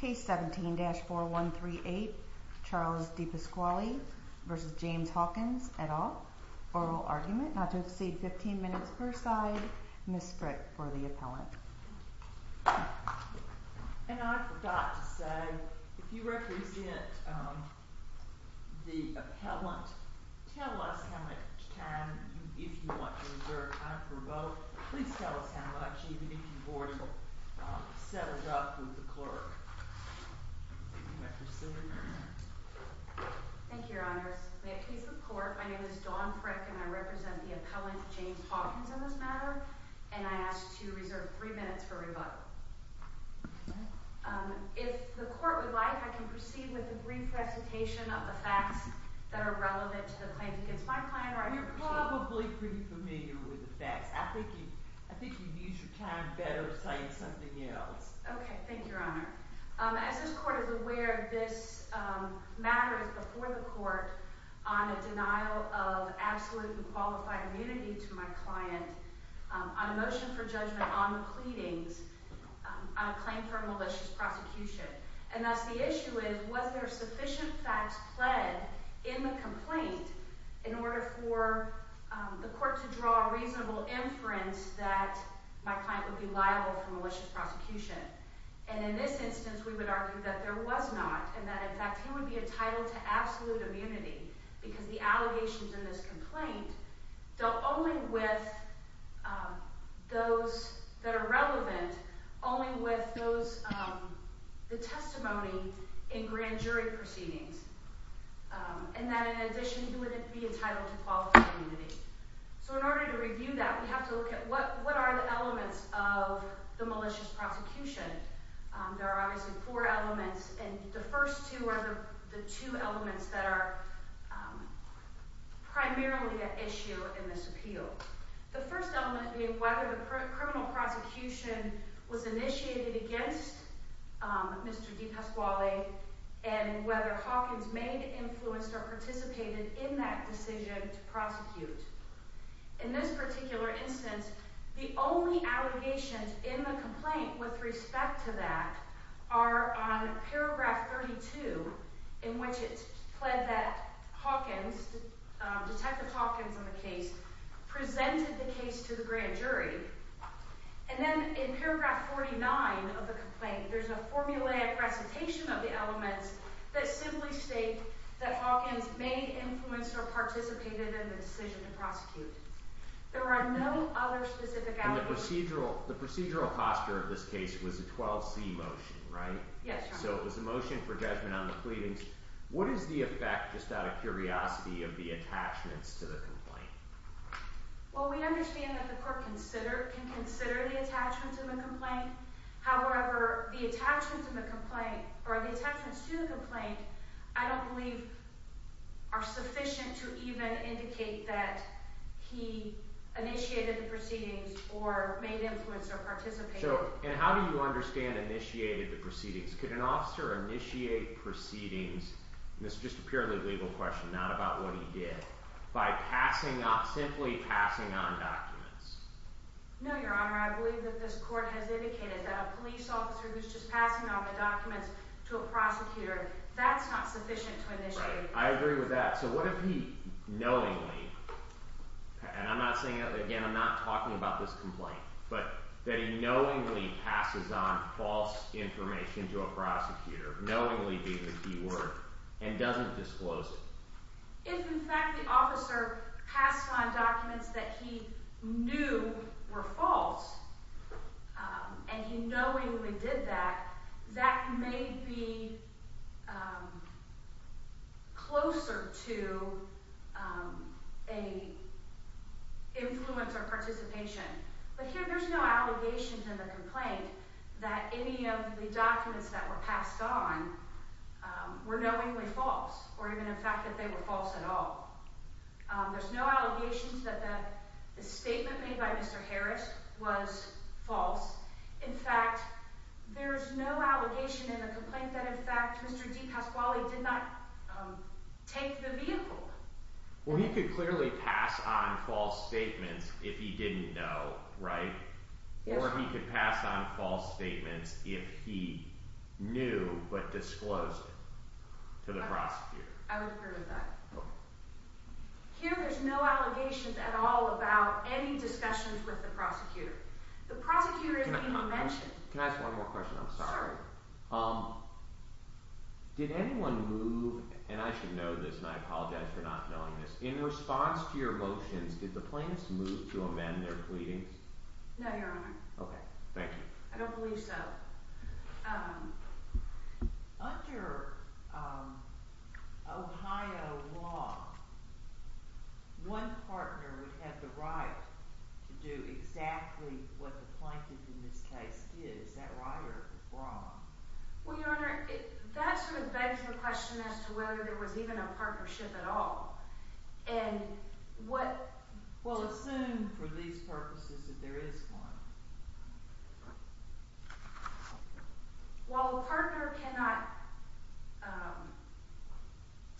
Case 17-4138 Charles Dipasquale v. James Hawkins, et al. Oral argument, not to exceed 15 minutes per side. Ms. Sprick for the appellant. And I forgot to say, if you represent the appellant, tell us how much time, if you want to reserve time for both, please tell us how much, even if you were to settle it up with the clerk. Thank you, Your Honor. May I please report? My name is Dawn Frick and I represent the appellant, James Hawkins, on this matter, and I ask to reserve three minutes for rebuttal. If the court would like, I can proceed with a brief recitation of the facts that are relevant to the claims against my client. You're probably pretty familiar with the facts. I think you'd use your time better saying something else. Okay, thank you, Your Honor. As this court is aware, this matter is before the court on a denial of absolute and qualified immunity to my client on a motion for judgment on the pleadings on a claim for a malicious prosecution. And thus the issue is, was there sufficient facts pled in the complaint in order for the court to draw a reasonable inference that my client would be liable for malicious prosecution? And in this instance, we would argue that there was not, and that in fact he would be entitled to absolute immunity because the allegations in this complaint dealt only with those that are relevant, only with the testimony in grand jury proceedings. And that in addition, he would be entitled to qualified immunity. So in order to review that, we have to look at what are the elements of the malicious prosecution. There are obviously four elements, and the first two are the two elements that are primarily at issue in this appeal. The first element being whether the criminal prosecution was initiated against Mr. DiPasquale and whether Hawkins may have influenced or participated in that decision to prosecute. In this particular instance, the only allegations in the complaint with respect to that are on paragraph 32, in which it's pled that Hawkins, Detective Hawkins in the case, presented the case to the grand jury. And then in paragraph 49 of the complaint, there's a formulaic recitation of the elements that simply state that Hawkins may have influenced or participated in the decision to prosecute. There are no other specific allegations. And the procedural posture of this case was a 12C motion, right? Yes, Your Honor. So it was a motion for judgment on the pleadings. What is the effect, just out of curiosity, of the attachments to the complaint? Well, we understand that the court can consider the attachments to the complaint. However, the attachments to the complaint I don't believe are sufficient to even indicate that he initiated the proceedings or made influence or participated. And how do you understand initiated the proceedings? Could an officer initiate proceedings, and this is just a purely legal question, not about what he did, by simply passing on documents? No, Your Honor. I believe that this court has indicated that a police officer who's just passing on the documents to a prosecutor, that's not sufficient to initiate. And I'm not saying, again, I'm not talking about this complaint, but that he knowingly passes on false information to a prosecutor, knowingly being the key word, and doesn't disclose it. If, in fact, the officer passed on documents that he knew were false, and he knowingly did that, that may be closer to an influence or participation. But here, there's no allegations in the complaint that any of the documents that were passed on were knowingly false, or even the fact that they were false at all. There's no allegations that the statement made by Mr. Harris was false. In fact, there's no allegation in the complaint that, in fact, Mr. DePasquale did not take the vehicle. Well, he could clearly pass on false statements if he didn't know, right? Or he could pass on false statements if he knew, but disclosed it to the prosecutor. I would agree with that. Here, there's no allegations at all about any discussions with the prosecutor. The prosecutor isn't even mentioned. Can I ask one more question? I'm sorry. Did anyone move – and I should know this, and I apologize for not knowing this – in response to your motions, did the plaintiffs move to amend their pleadings? No, Your Honor. Okay. Thank you. I don't believe so. Under Ohio law, one partner would have the right to do exactly what the plaintiff in this case did. Is that right or wrong? Well, Your Honor, that sort of begs the question as to whether there was even a partnership at all. And what – Well, assume for these purposes that there is one. While a partner cannot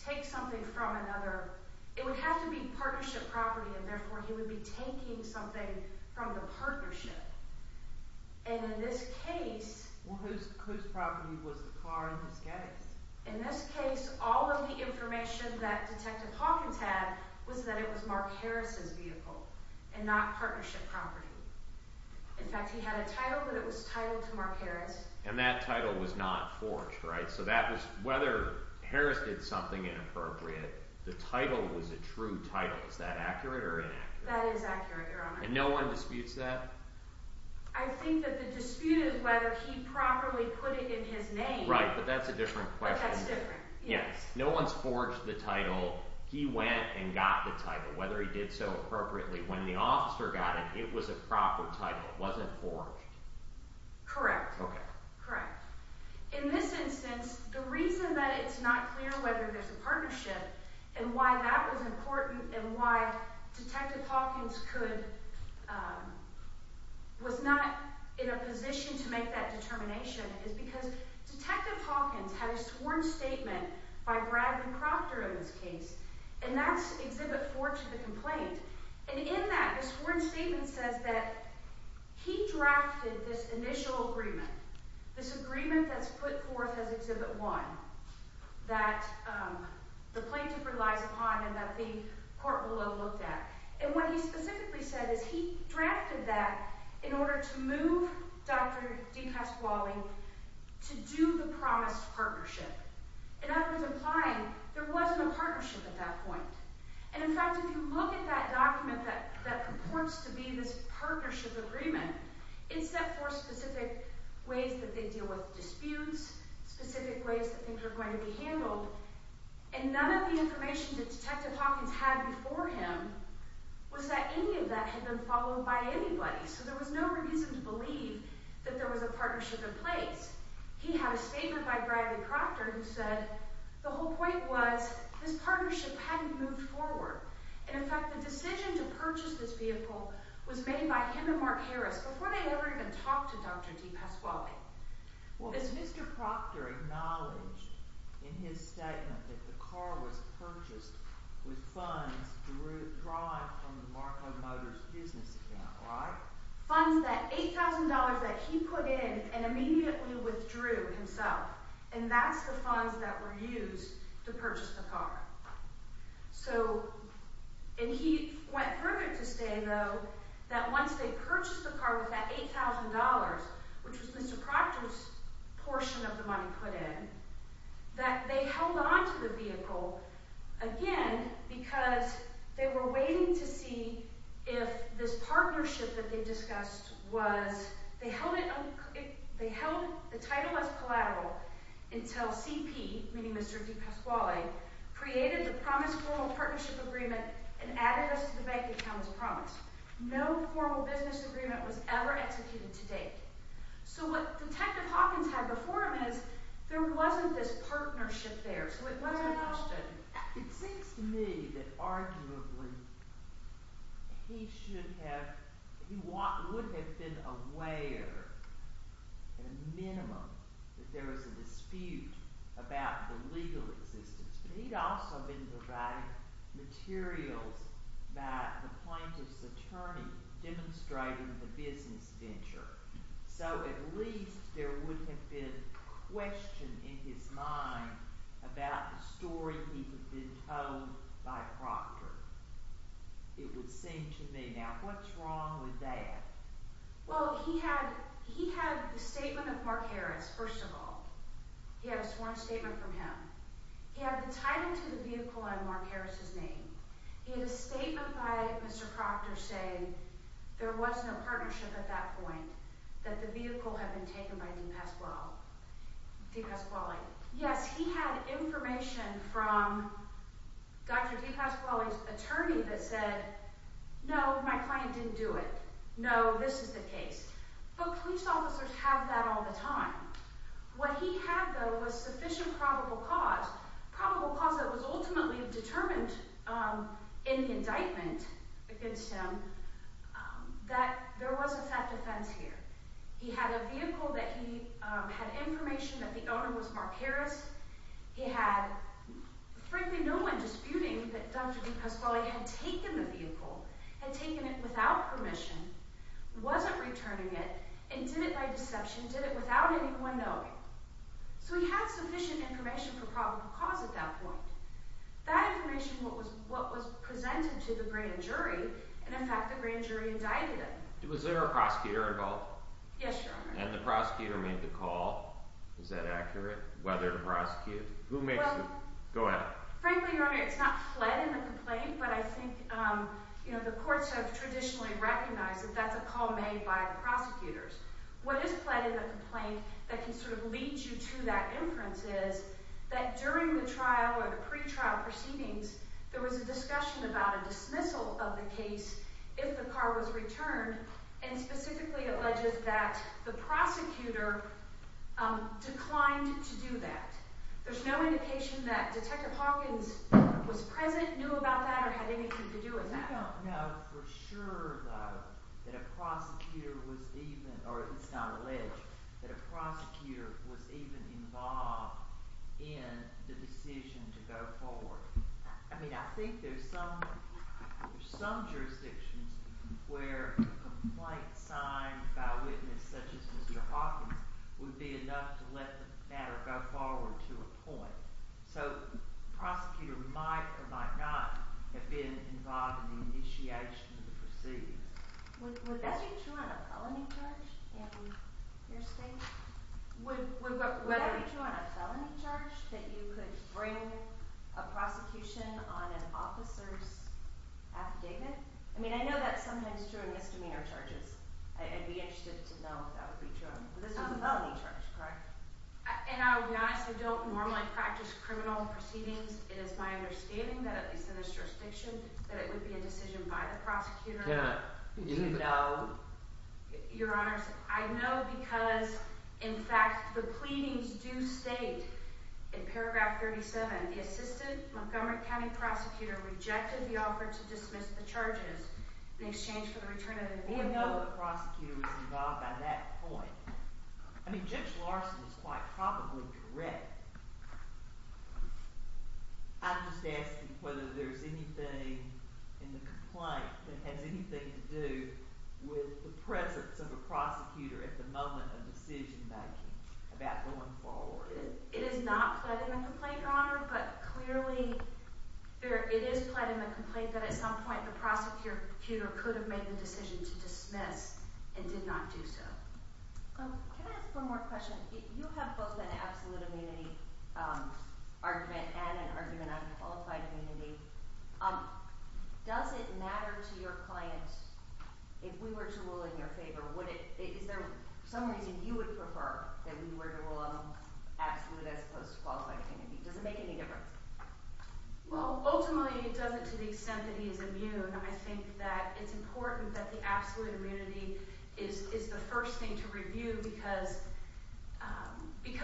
take something from another, it would have to be partnership property, and therefore he would be taking something from the partnership. And in this case – Well, whose property was the car in this case? In this case, all of the information that Detective Hawkins had was that it was Mark Harris' vehicle and not partnership property. In fact, he had a title, but it was titled to Mark Harris. And that title was not forged, right? So that was – whether Harris did something inappropriate, the title was a true title. Is that accurate or inaccurate? That is accurate, Your Honor. And no one disputes that? I think that the dispute is whether he properly put it in his name. Right, but that's a different question. That's different, yes. No one's forged the title. He went and got the title, whether he did so appropriately. When the officer got it, it was a proper title. It wasn't forged. Correct. Okay. And why that was important and why Detective Hawkins could – was not in a position to make that determination is because Detective Hawkins had a sworn statement by Bradley Crofter in this case, and that's Exhibit 4 to the complaint. And in that, the sworn statement says that he drafted this initial agreement, this agreement that's put forth as Exhibit 1 that the plaintiff relies upon and that the court below looked at. And what he specifically said is he drafted that in order to move Dr. D. Casquale to do the promised partnership, in other words, implying there wasn't a partnership at that point. And in fact, if you look at that document that purports to be this partnership agreement, it's set forth specific ways that they deal with disputes, specific ways that things are going to be handled. And none of the information that Detective Hawkins had before him was that any of that had been followed by anybody, so there was no reason to believe that there was a partnership in place. He had a statement by Bradley Crofter who said the whole point was this partnership hadn't moved forward. And in fact, the decision to purchase this vehicle was made by him and Mark Harris before they ever even talked to Dr. D. Casquale. Well, as Mr. Crofter acknowledged in his statement that the car was purchased with funds derived from the Marco Motors business account, right? He withdrew himself, and that's the funds that were used to purchase the car. So – and he went further to say, though, that once they purchased the car with that $8,000, which was Mr. Crofter's portion of the money put in, that they held onto the vehicle again because they were waiting to see if this partnership that they discussed was – they held it – they held the title as collateral until CP, meaning Mr. D. Casquale, created the promised formal partnership agreement and added this to the bank account as promised. No formal business agreement was ever executed to date. So what Detective Hawkins had before him is there wasn't this partnership there, so it wasn't a question. But it seems to me that arguably he should have – he would have been aware, at a minimum, that there was a dispute about the legal existence. But he'd also been provided materials by the plaintiff's attorney demonstrating the business venture. So at least there would have been question in his mind about the story he could have been told by Crofter, it would seem to me. Now, what's wrong with that? Well, he had the statement of Mark Harris, first of all. He had a sworn statement from him. He had the title to the vehicle on Mark Harris's name. He had a statement by Mr. Crofter saying there wasn't a partnership at that point, that the vehicle had been taken by D. Casquale. Yes, he had information from Dr. D. Casquale's attorney that said, no, my client didn't do it. No, this is the case. But police officers have that all the time. What he had, though, was sufficient probable cause, probable cause that was ultimately determined in the indictment against him, that there was a theft offense here. He had a vehicle that he had information that the owner was Mark Harris. He had, frankly, no one disputing that Dr. D. Casquale had taken the vehicle, had taken it without permission, wasn't returning it, and did it by deception, did it without anyone knowing. So he had sufficient information for probable cause at that point. That information was what was presented to the grand jury, and in fact the grand jury indicted him. Was there a prosecutor involved? Yes, Your Honor. And the prosecutor made the call. Is that accurate? Whether to prosecute? Who makes the – go ahead. Frankly, Your Honor, it's not fled in the complaint, but I think the courts have traditionally recognized that that's a call made by the prosecutors. What is fled in the complaint that can sort of lead you to that inference is that during the trial or the pretrial proceedings, there was a discussion about a dismissal of the case if the car was returned and specifically alleges that the prosecutor declined to do that. There's no indication that Detective Hawkins was present, knew about that, or had anything to do with that. I don't know for sure, though, that a prosecutor was even – or it's not alleged that a prosecutor was even involved in the decision to go forward. I mean, I think there's some jurisdictions where a complaint signed by a witness such as Mr. Hawkins would be enough to let the matter go forward to a point. So the prosecutor might or might not have been involved in the initiation of the proceedings. Would that be true on a felony charge in your state? Would that be true on a felony charge, that you could bring a prosecution on an officer's affidavit? I mean, I know that's sometimes true in misdemeanor charges. I'd be interested to know if that would be true. But this was a felony charge, correct? And I'll be honest. I don't normally practice criminal proceedings. It is my understanding that, at least in this jurisdiction, that it would be a decision by the prosecutor. You don't know? Your Honors, I know because, in fact, the pleadings do state in paragraph 37, the assistant Montgomery County prosecutor rejected the offer to dismiss the charges in exchange for the return of the vehicle. I know the prosecutor was involved by that point. I mean, Judge Larson is quite probably correct. I'm just asking whether there's anything in the complaint that has anything to do with the presence of a prosecutor at the moment of decision-making about going forward. It is not pled in the complaint, Your Honor. But clearly, it is pled in the complaint that at some point the prosecutor could have made the decision to dismiss and did not do so. Can I ask one more question? You have both an absolute immunity argument and an argument on qualified immunity. Does it matter to your clients if we were to rule in your favor? Is there some reason you would prefer that we were to rule in absolute as opposed to qualified immunity? Does it make any difference? Well, ultimately, it doesn't to the extent that he is immune. I think that it's important that the absolute immunity is the first thing to review because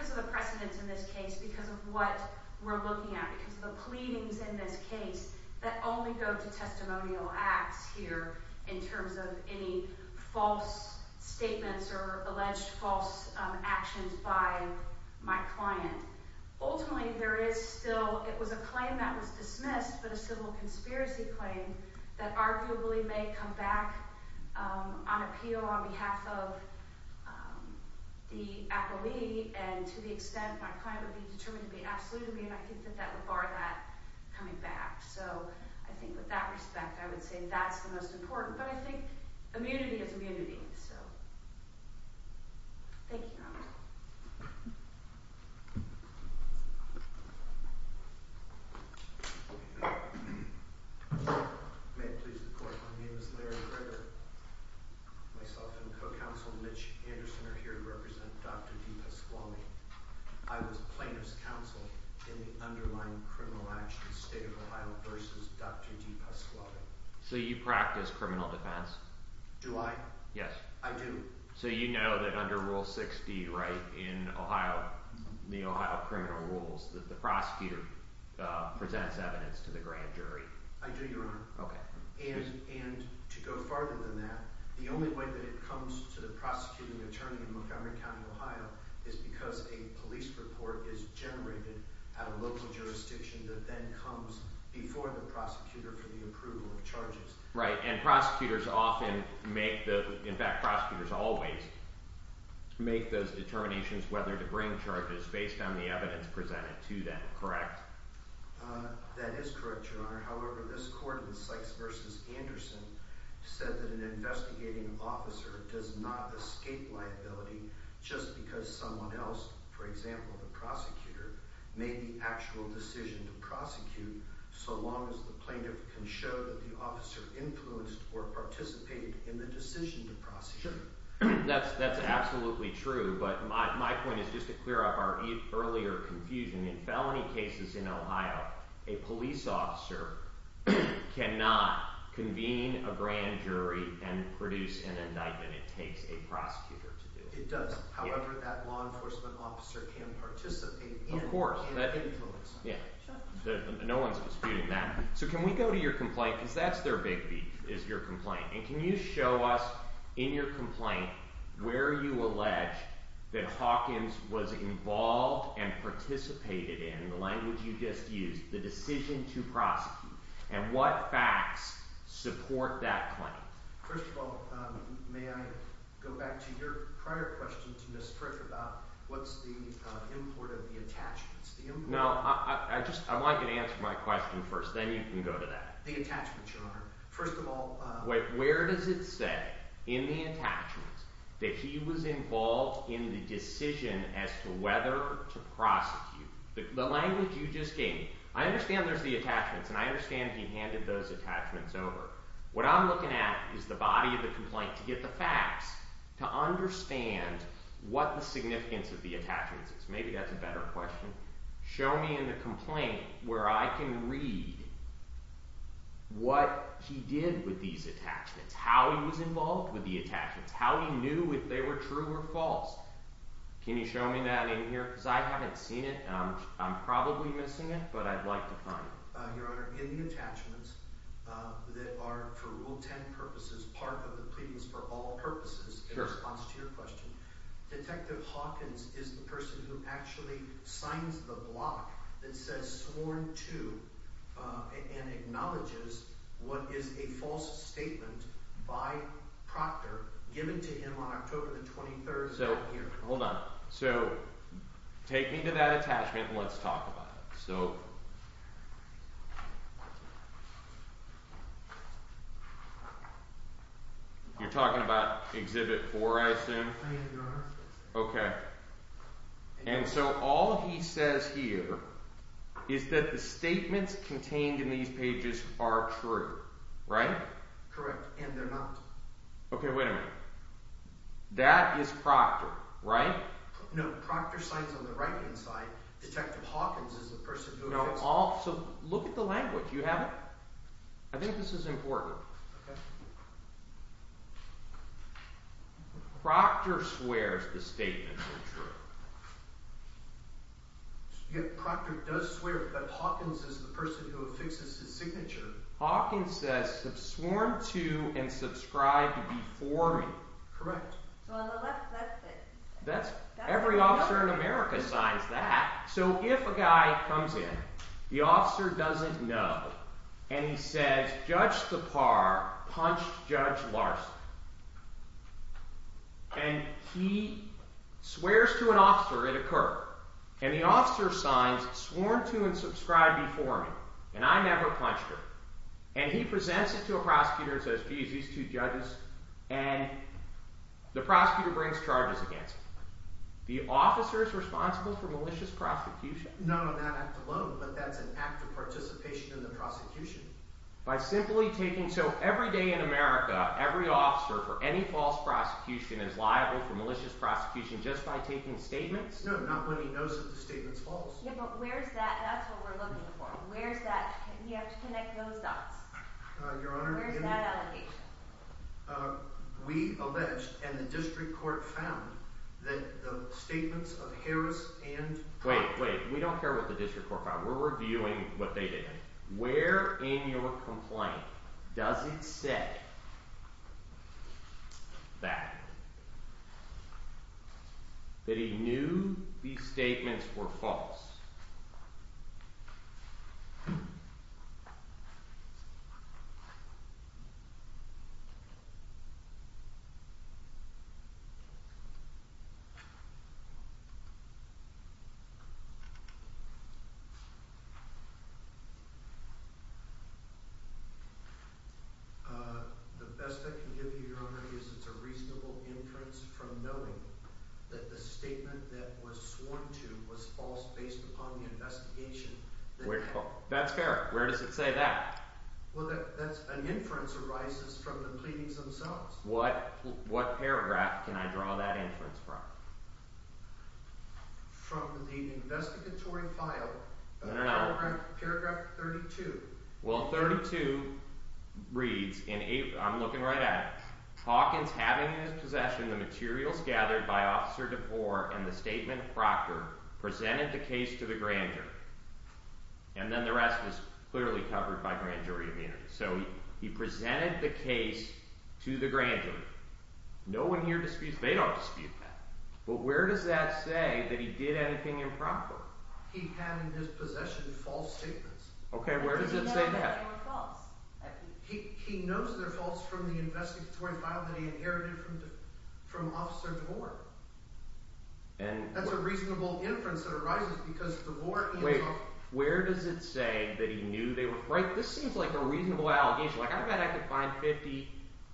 of the precedence in this case, because of what we're looking at, because of the pleadings in this case that only go to testimonial acts here in terms of any false statements or alleged false actions by my client. Ultimately, there is still – it was a claim that was dismissed, but a civil conspiracy claim that arguably may come back on appeal on behalf of the appellee. And to the extent my client would be determined to be absolutely immune, I think that that would bar that coming back. So I think with that respect, I would say that's the most important. But I think immunity is immunity. So thank you. Thank you. May it please the Court. My name is Larry Greger. Myself and co-counsel Mitch Anderson are here to represent Dr. DePasquale. I was plaintiff's counsel in the underlying criminal action State of Ohio v. Dr. DePasquale. So you practice criminal defense? Do I? Yes. I do. So you know that under Rule 6d in Ohio, the Ohio criminal rules, that the prosecutor presents evidence to the grand jury. I do, Your Honor. Okay. And to go farther than that, the only way that it comes to the prosecuting attorney in Montgomery County, Ohio, is because a police report is generated at a local jurisdiction that then comes before the prosecutor for the approval of charges. Right. And prosecutors often make the – in fact, prosecutors always make those determinations whether to bring charges based on the evidence presented to them. Correct? That is correct, Your Honor. However, this court in Sykes v. Anderson said that an investigating officer does not escape liability just because someone else, for example, the prosecutor, made the actual decision to prosecute so long as the plaintiff can show that the officer influenced or participated in the decision to prosecute. That's absolutely true, but my point is just to clear up our earlier confusion. In felony cases in Ohio, a police officer cannot convene a grand jury and produce an indictment. It takes a prosecutor to do it. It does. However, that law enforcement officer can participate. Of course. And influence. Yeah. No one's disputing that. So can we go to your complaint? Because that's their big beef, is your complaint. And can you show us in your complaint where you allege that Hawkins was involved and participated in – in the language you just used – the decision to prosecute? And what facts support that claim? First of all, may I go back to your prior question to Ms. Frick about what's the import of the attachments? No. I just – I want you to answer my question first. Then you can go to that. The attachments, Your Honor. First of all – Wait. Where does it say in the attachments that he was involved in the decision as to whether to prosecute? The language you just gave me. I understand there's the attachments, and I understand he handed those attachments over. What I'm looking at is the body of the complaint to get the facts to understand what the significance of the attachments is. Maybe that's a better question. Show me in the complaint where I can read what he did with these attachments, how he was involved with the attachments, how he knew if they were true or false. Can you show me that in here? Because I haven't seen it, and I'm probably missing it, but I'd like to find it. Your Honor, in the attachments that are, for Rule 10 purposes, part of the pleadings for all purposes in response to your question, Detective Hawkins is the person who actually signs the block that says sworn to and acknowledges what is a false statement by Proctor given to him on October the 23rd of that year. Hold on. So, take me to that attachment and let's talk about it. You're talking about Exhibit 4, I assume? I am, Your Honor. Okay. And so all he says here is that the statements contained in these pages are true, right? Correct, and they're not. Okay, wait a minute. That is Proctor, right? No, Proctor signs on the right-hand side. Detective Hawkins is the person who affixes… No, so look at the language. Do you have it? I think this is important. Okay. Proctor swears the statements are true. Yeah, Proctor does swear, but Hawkins is the person who affixes his signature. Hawkins says sworn to and subscribed before me. Correct. So, on the left, that's the… Every officer in America signs that. So, if a guy comes in, the officer doesn't know, and he says Judge Tappar punched Judge Larson, and he swears to an officer, it occurred. And the officer signs sworn to and subscribed before me, and I never punched her. And he presents it to a prosecutor and says, geez, these two judges, and the prosecutor brings charges against him. The officer is responsible for malicious prosecution? Not on that act alone, but that's an act of participation in the prosecution. By simply taking… So, every day in America, every officer for any false prosecution is liable for malicious prosecution just by taking statements? No, not when he knows that the statement's false. Yeah, but where's that? That's what we're looking for. Where's that? You have to connect those dots. Your Honor, we… Where's that allegation? We alleged, and the district court found, that the statements of Harris and… Wait, wait. We don't care what the district court found. We're reviewing what they did. Where in your complaint does it say that, that he knew these statements were false? The best I can give you, Your Honor, is it's a reasonable inference from knowing that the statement that was sworn to was false based upon the investigation. That's fair. Where does it say that? Well, that's… An inference arises from the pleadings themselves. What paragraph can I draw that inference from? From the investigatory file. No, no, no. Paragraph 32. Well, 32 reads, and I'm looking right at it. Hawkins, having in his possession the materials gathered by Officer DeVore and the statement of Proctor, presented the case to the grand jury. And then the rest was clearly covered by grand jury immunity. So, he presented the case to the grand jury. No one here disputes – they don't dispute that. But where does that say that he did anything improper? He had in his possession false statements. Okay, where does it say that? He knows they're false from the investigatory file that he inherited from Officer DeVore. That's a reasonable inference that arises because DeVore himself… Wait, where does it say that he knew they were – this seems like a reasonable allegation. Like I bet I could find 50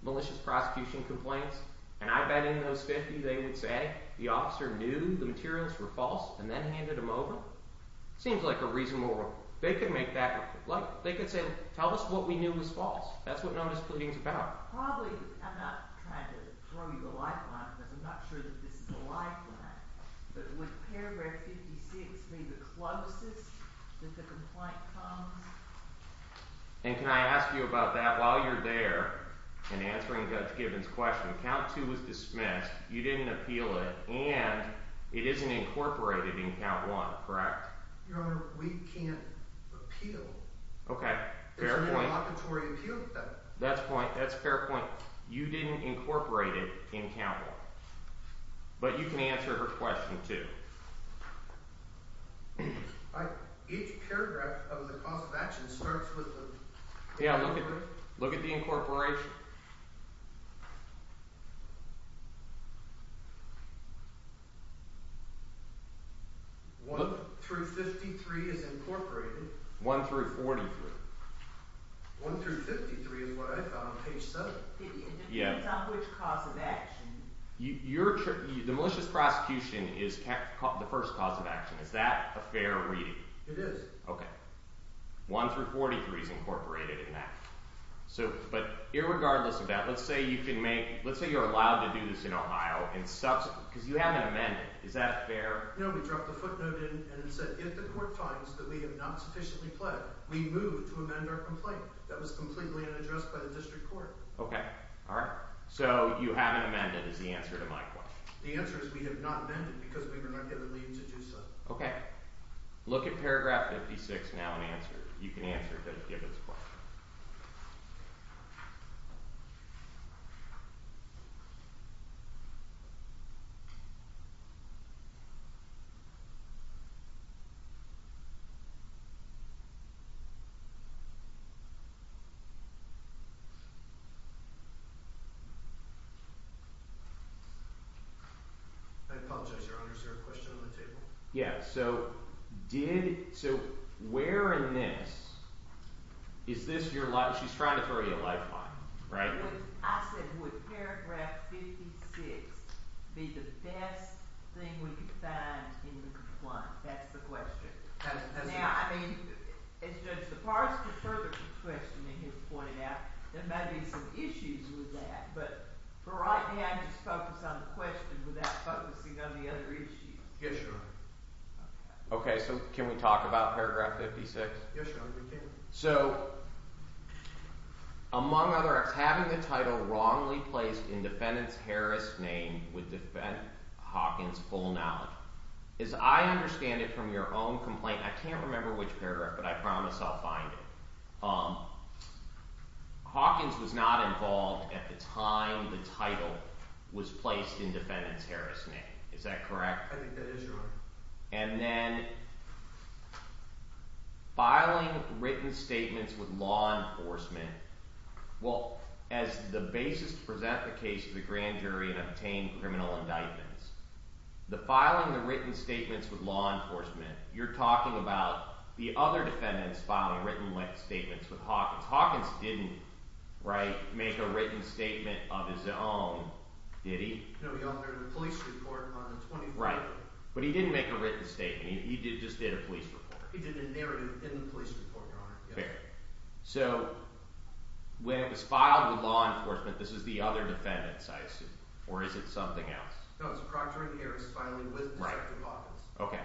malicious prosecution complaints, and I bet in those 50 they would say the officer knew the materials were false and then handed them over. It seems like a reasonable – they could make that – like they could say, tell us what we knew was false. That's what non-displeading is about. Probably – I'm not trying to throw you the lifeline because I'm not sure that this is a lifeline. But would paragraph 56 be the closest that the complaint comes? And can I ask you about that while you're there and answering Judge Gibbons' question? Count 2 was dismissed, you didn't appeal it, and it isn't incorporated in Count 1, correct? Your Honor, we can't appeal. Okay, fair point. It's a derogatory appeal. That's a fair point. You didn't incorporate it in Count 1. But you can answer her question too. Each paragraph of the cause of action starts with the – Yeah, look at the incorporation. 1 through 53 is incorporated. 1 through 43. 1 through 53 is what I found on page 7. It depends on which cause of action. The malicious prosecution is the first cause of action. Is that a fair reading? It is. Okay. 1 through 43 is incorporated in that. But irregardless of that, let's say you can make – let's say you're allowed to do this in Ohio. Because you have an amendment. Is that fair? No, we dropped a footnote in and it said, if the court finds that we have not sufficiently pled, we move to amend our complaint. That was completely unaddressed by the district court. Okay. All right. So you have an amendment is the answer to my question. The answer is we have not amended because we were not given leave to do so. Okay. Look at paragraph 56 now and answer it. You can answer David's question. I apologize, Your Honor. Is there a question on the table? Yeah. So did – so where in this – is this your – she's trying to throw you a lifeline, right? I said, would paragraph 56 be the best thing we could find in the complaint? That's the question. Now, I mean, as Judge DeParle's further questioning has pointed out, there might be some issues with that. But for right now, just focus on the question without focusing on the other issues. Yes, Your Honor. Okay. So can we talk about paragraph 56? Yes, Your Honor. We can. So among other acts, having the title wrongly placed in defendant's Harris name would defend Hawkins' full knowledge. As I understand it from your own complaint – I can't remember which paragraph, but I promise I'll find it. Hawkins was not involved at the time the title was placed in defendant's Harris name. Is that correct? I think that is, Your Honor. And then filing written statements with law enforcement – well, as the basis to present the case to the grand jury and obtain criminal indictments, the filing of written statements with law enforcement, you're talking about the other defendants filing written statements with Hawkins. Hawkins didn't make a written statement of his own, did he? No, he authored a police report on the 24th. Right. But he didn't make a written statement. He just did a police report. He did a narrative in the police report, Your Honor. Fair. So when it was filed with law enforcement, this is the other defendants, I assume. Or is it something else? No, it's a proctor and Harris filing with Detective Hawkins. Right. Okay.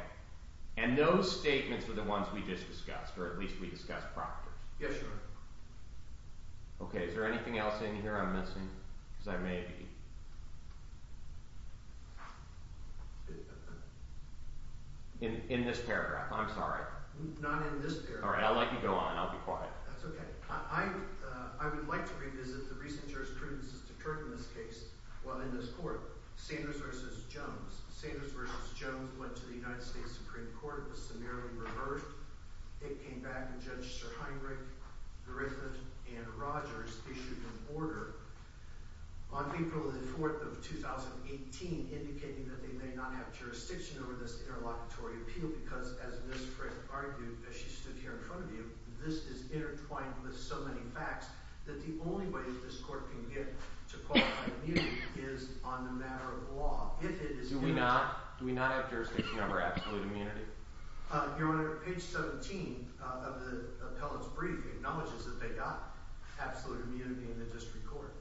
And those statements were the ones we just discussed, or at least we discussed proctors. Yes, Your Honor. Okay. Is there anything else in here I'm missing? Because I may be in this paragraph. I'm sorry. Not in this paragraph. All right. I'll let you go on, and I'll be quiet. That's okay. I would like to revisit the recent jurisprudence that occurred in this case while in this court, Sanders v. Jones. Sanders v. Jones went to the United States Supreme Court. It was summarily reversed. It came back, and Judge Sir Heinrich, Griffith, and Rogers issued an order on April the 4th of 2018 indicating that they may not have jurisdiction over this interlocutory appeal because, as Ms. Frick argued, as she stood here in front of you, this is intertwined with so many facts that the only way this court can get to qualify immunity is on the matter of law. Do we not have jurisdiction over absolute immunity? Your Honor, page 17 of the appellant's brief acknowledges that they got absolute immunity in the district court.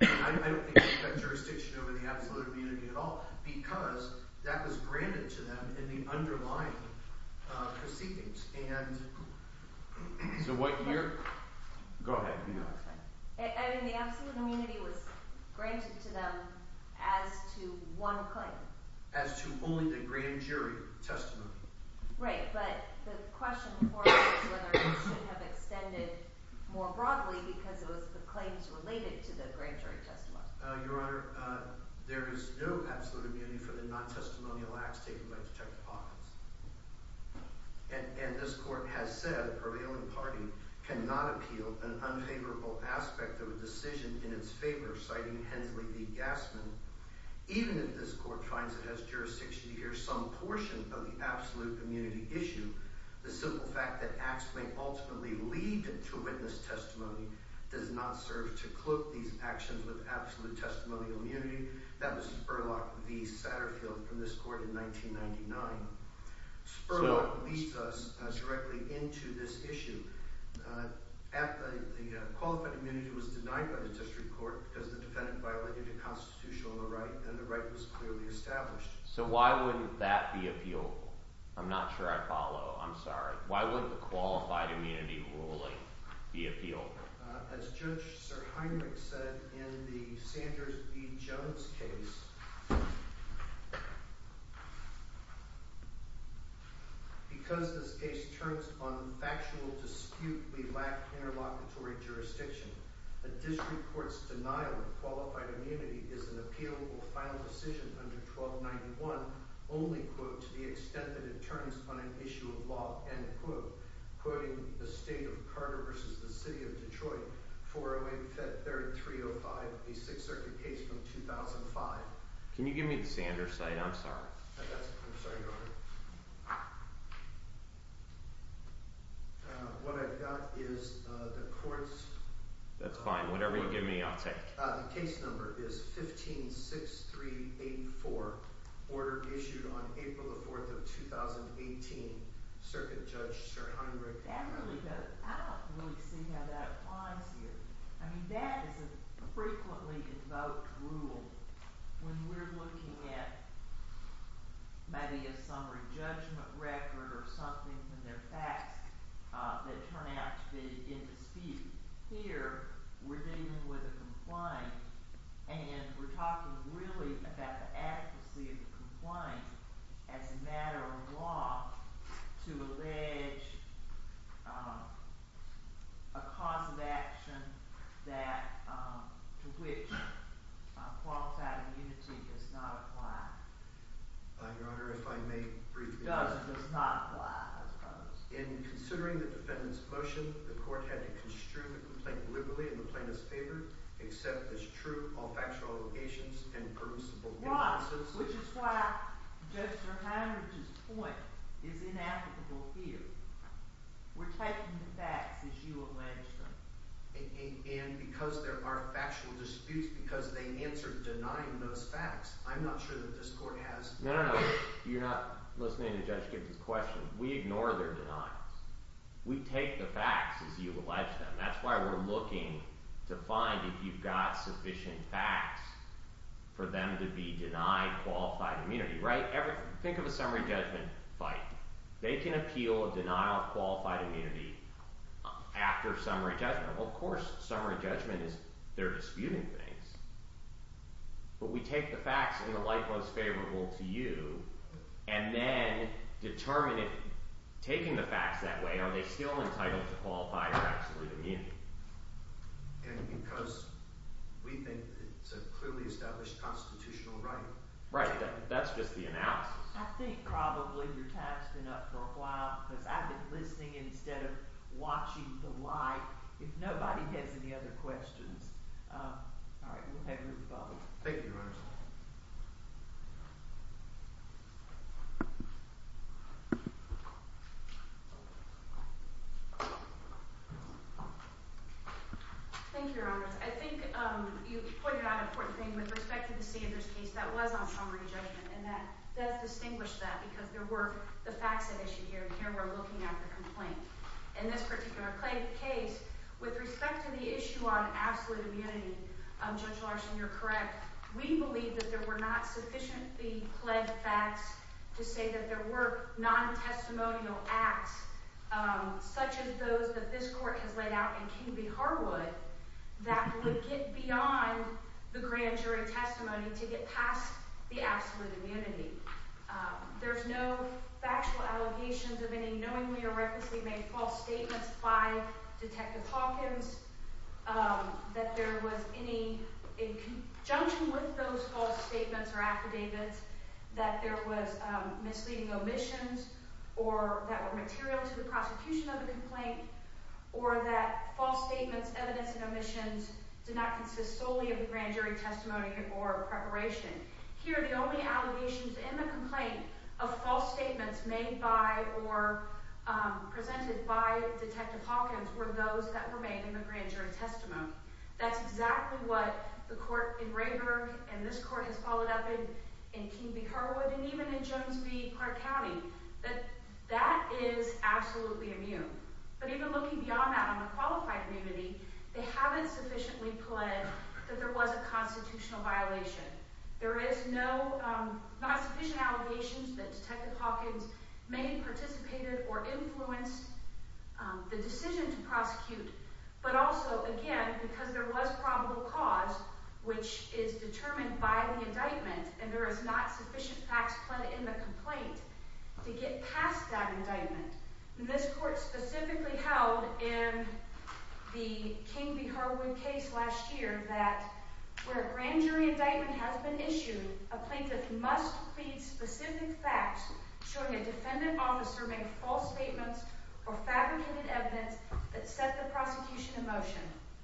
I don't think they have jurisdiction over the absolute immunity at all because that was granted to them in the underlying proceedings. So what year? Go ahead. I mean, the absolute immunity was granted to them as to one claim. As to only the grand jury testimony. Right, but the question for you is whether it should have extended more broadly because it was the claims related to the grand jury testimony. Your Honor, there is no absolute immunity for the non-testimonial acts taken by Detective of a decision in its favor, citing Hensley v. Gassman. Even if this court finds it has jurisdiction to hear some portion of the absolute immunity issue, the simple fact that acts may ultimately lead to witness testimony does not serve to cloak these actions with absolute testimonial immunity. That was Spurlock v. Satterfield from this court in 1999. Spurlock leads us directly into this issue. The qualified immunity was denied by the district court because the defendant violated the Constitution on the right and the right was clearly established. So why wouldn't that be appealable? I'm not sure I follow. I'm sorry. Why wouldn't the qualified immunity ruling be appealable? As Judge Sir Heinrich said in the Sanders v. Jones case, because this case turns on factual dispute, we lack interlocutory jurisdiction. A district court's denial of qualified immunity is an appealable final decision under 1291 only, quote, to the extent that it turns on an issue of law, end quote. Quoting the State of Carter v. the City of Detroit, 408-3305, a Sixth Circuit case from Can you give me the Sanders side? I'm sorry. I'm sorry, Your Honor. What I've got is the court's That's fine. Whatever you give me, I'll take. The case number is 15-6384, order issued on April 4, 2018, Circuit Judge Sir Heinrich. I don't really see how that applies here. I mean, that is a frequently invoked rule when we're looking at maybe a summary judgment record or something from their facts that turn out to be in dispute. Here, we're dealing with a complaint, and we're talking really about the adequacy of the complaint as a matter of law to allege a cause of action to which qualified immunity does not apply. Your Honor, if I may briefly Does not apply, I suppose. In considering the defendant's motion, the court had to construe the complaint liberally in the plaintiff's favor except as true or factual allegations and permissible innocence. Which is why Judge Sir Heinrich's point is inapplicable here. We're taking the facts as you allege them. And because there are factual disputes because they answer denying those facts. I'm not sure that this court has No, no, no. You're not listening to Judge Gibson's question. We ignore their denials. We take the facts as you allege them. That's why we're looking to find if you've got sufficient facts for them to be denied qualified immunity, right? Think of a summary judgment fight. They can appeal a denial of qualified immunity after summary judgment. Of course, summary judgment is, they're disputing things. But we take the facts in the light most favorable to you and then determine if, taking the facts that way, are they still entitled to qualified or absolutely immune? And because we think it's a clearly established constitutional right. Right, that's just the analysis. I think probably your time's been up for a while because I've been listening instead of watching the light. If nobody has any other questions. All right, we'll have you with the ball. Thank you, Your Honor. Thank you, Your Honor. I think you pointed out an important thing with respect to the Sanders case that was on summary judgment. And that does distinguish that because there were the facts at issue here. And here we're looking at the complaint. In this particular case, with respect to the issue on absolute immunity, Judge Larson, you're correct. We believe that there were not sufficiently pledged facts to say that there were non-testimonial acts, such as those that this court has laid out in King v. Harwood, that would get beyond the grand jury testimony to get past the absolute immunity. There's no factual allegations of any knowingly or recklessly made false statements by Detective Hawkins. That there was any, in conjunction with those false statements or affidavits, that there was misleading omissions or that were material to the prosecution of the complaint, or that false statements, evidence, and omissions did not consist solely of the grand jury testimony or preparation. Here, the only allegations in the complaint of false statements made by or presented by Detective Hawkins were those that were made in the grand jury testimony. That's exactly what the court in Rayburg and this court has followed up in King v. Harwood and even in Jones v. Clark County. That is absolutely immune. But even looking beyond that on the qualified immunity, they haven't sufficiently pledged that there was a constitutional violation. There is no, not sufficient allegations that Detective Hawkins may have participated or influenced the decision to prosecute. But also, again, because there was probable cause, which is determined by the indictment, and there is not sufficient facts put in the complaint to get past that indictment. This court specifically held in the King v. Harwood case last year that where a grand jury indictment has been issued, a plaintiff must plead specific facts showing a defendant officer made false statements or fabricated evidence that set the prosecution in motion.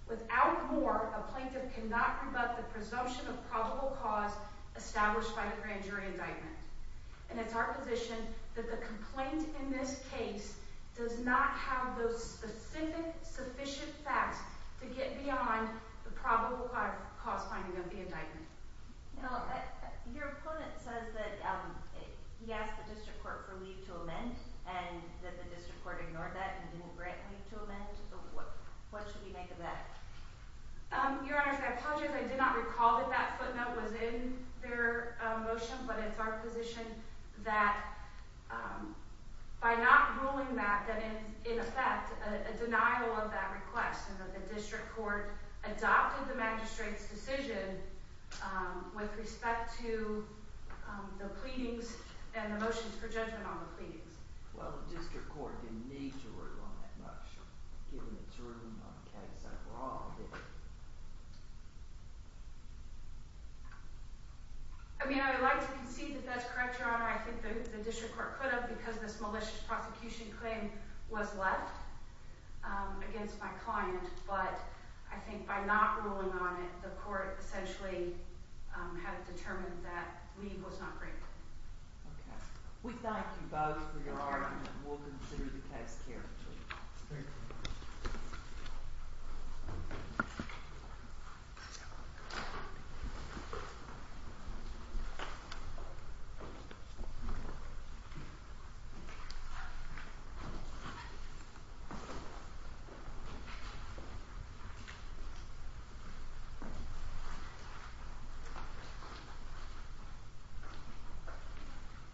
Without more, a plaintiff cannot rebut the presumption of probable cause established by the grand jury indictment. And it's our position that the complaint in this case does not have those specific, sufficient facts to get beyond the probable cause finding of the indictment. Your opponent says that he asked the district court for leave to amend and that the district court ignored that and didn't grant leave to amend. So what should we make of that? Your Honor, I apologize. I did not recall that that footnote was in their motion, but it's our position that by not ruling that, that is, in effect, a denial of that request and that the district court adopted the magistrate's decision with respect to the pleadings and the motions for judgment on the pleadings. Well, the district court didn't need to rule on that motion, given it's ruling on the case overall. I mean, I would like to concede that that's correct, Your Honor. I think the district court could have because this malicious prosecution claim was left against my client. But I think by not ruling on it, the court essentially had determined that leave was not granted. We thank you both for your argument, and we'll consider the case carefully. Thank you.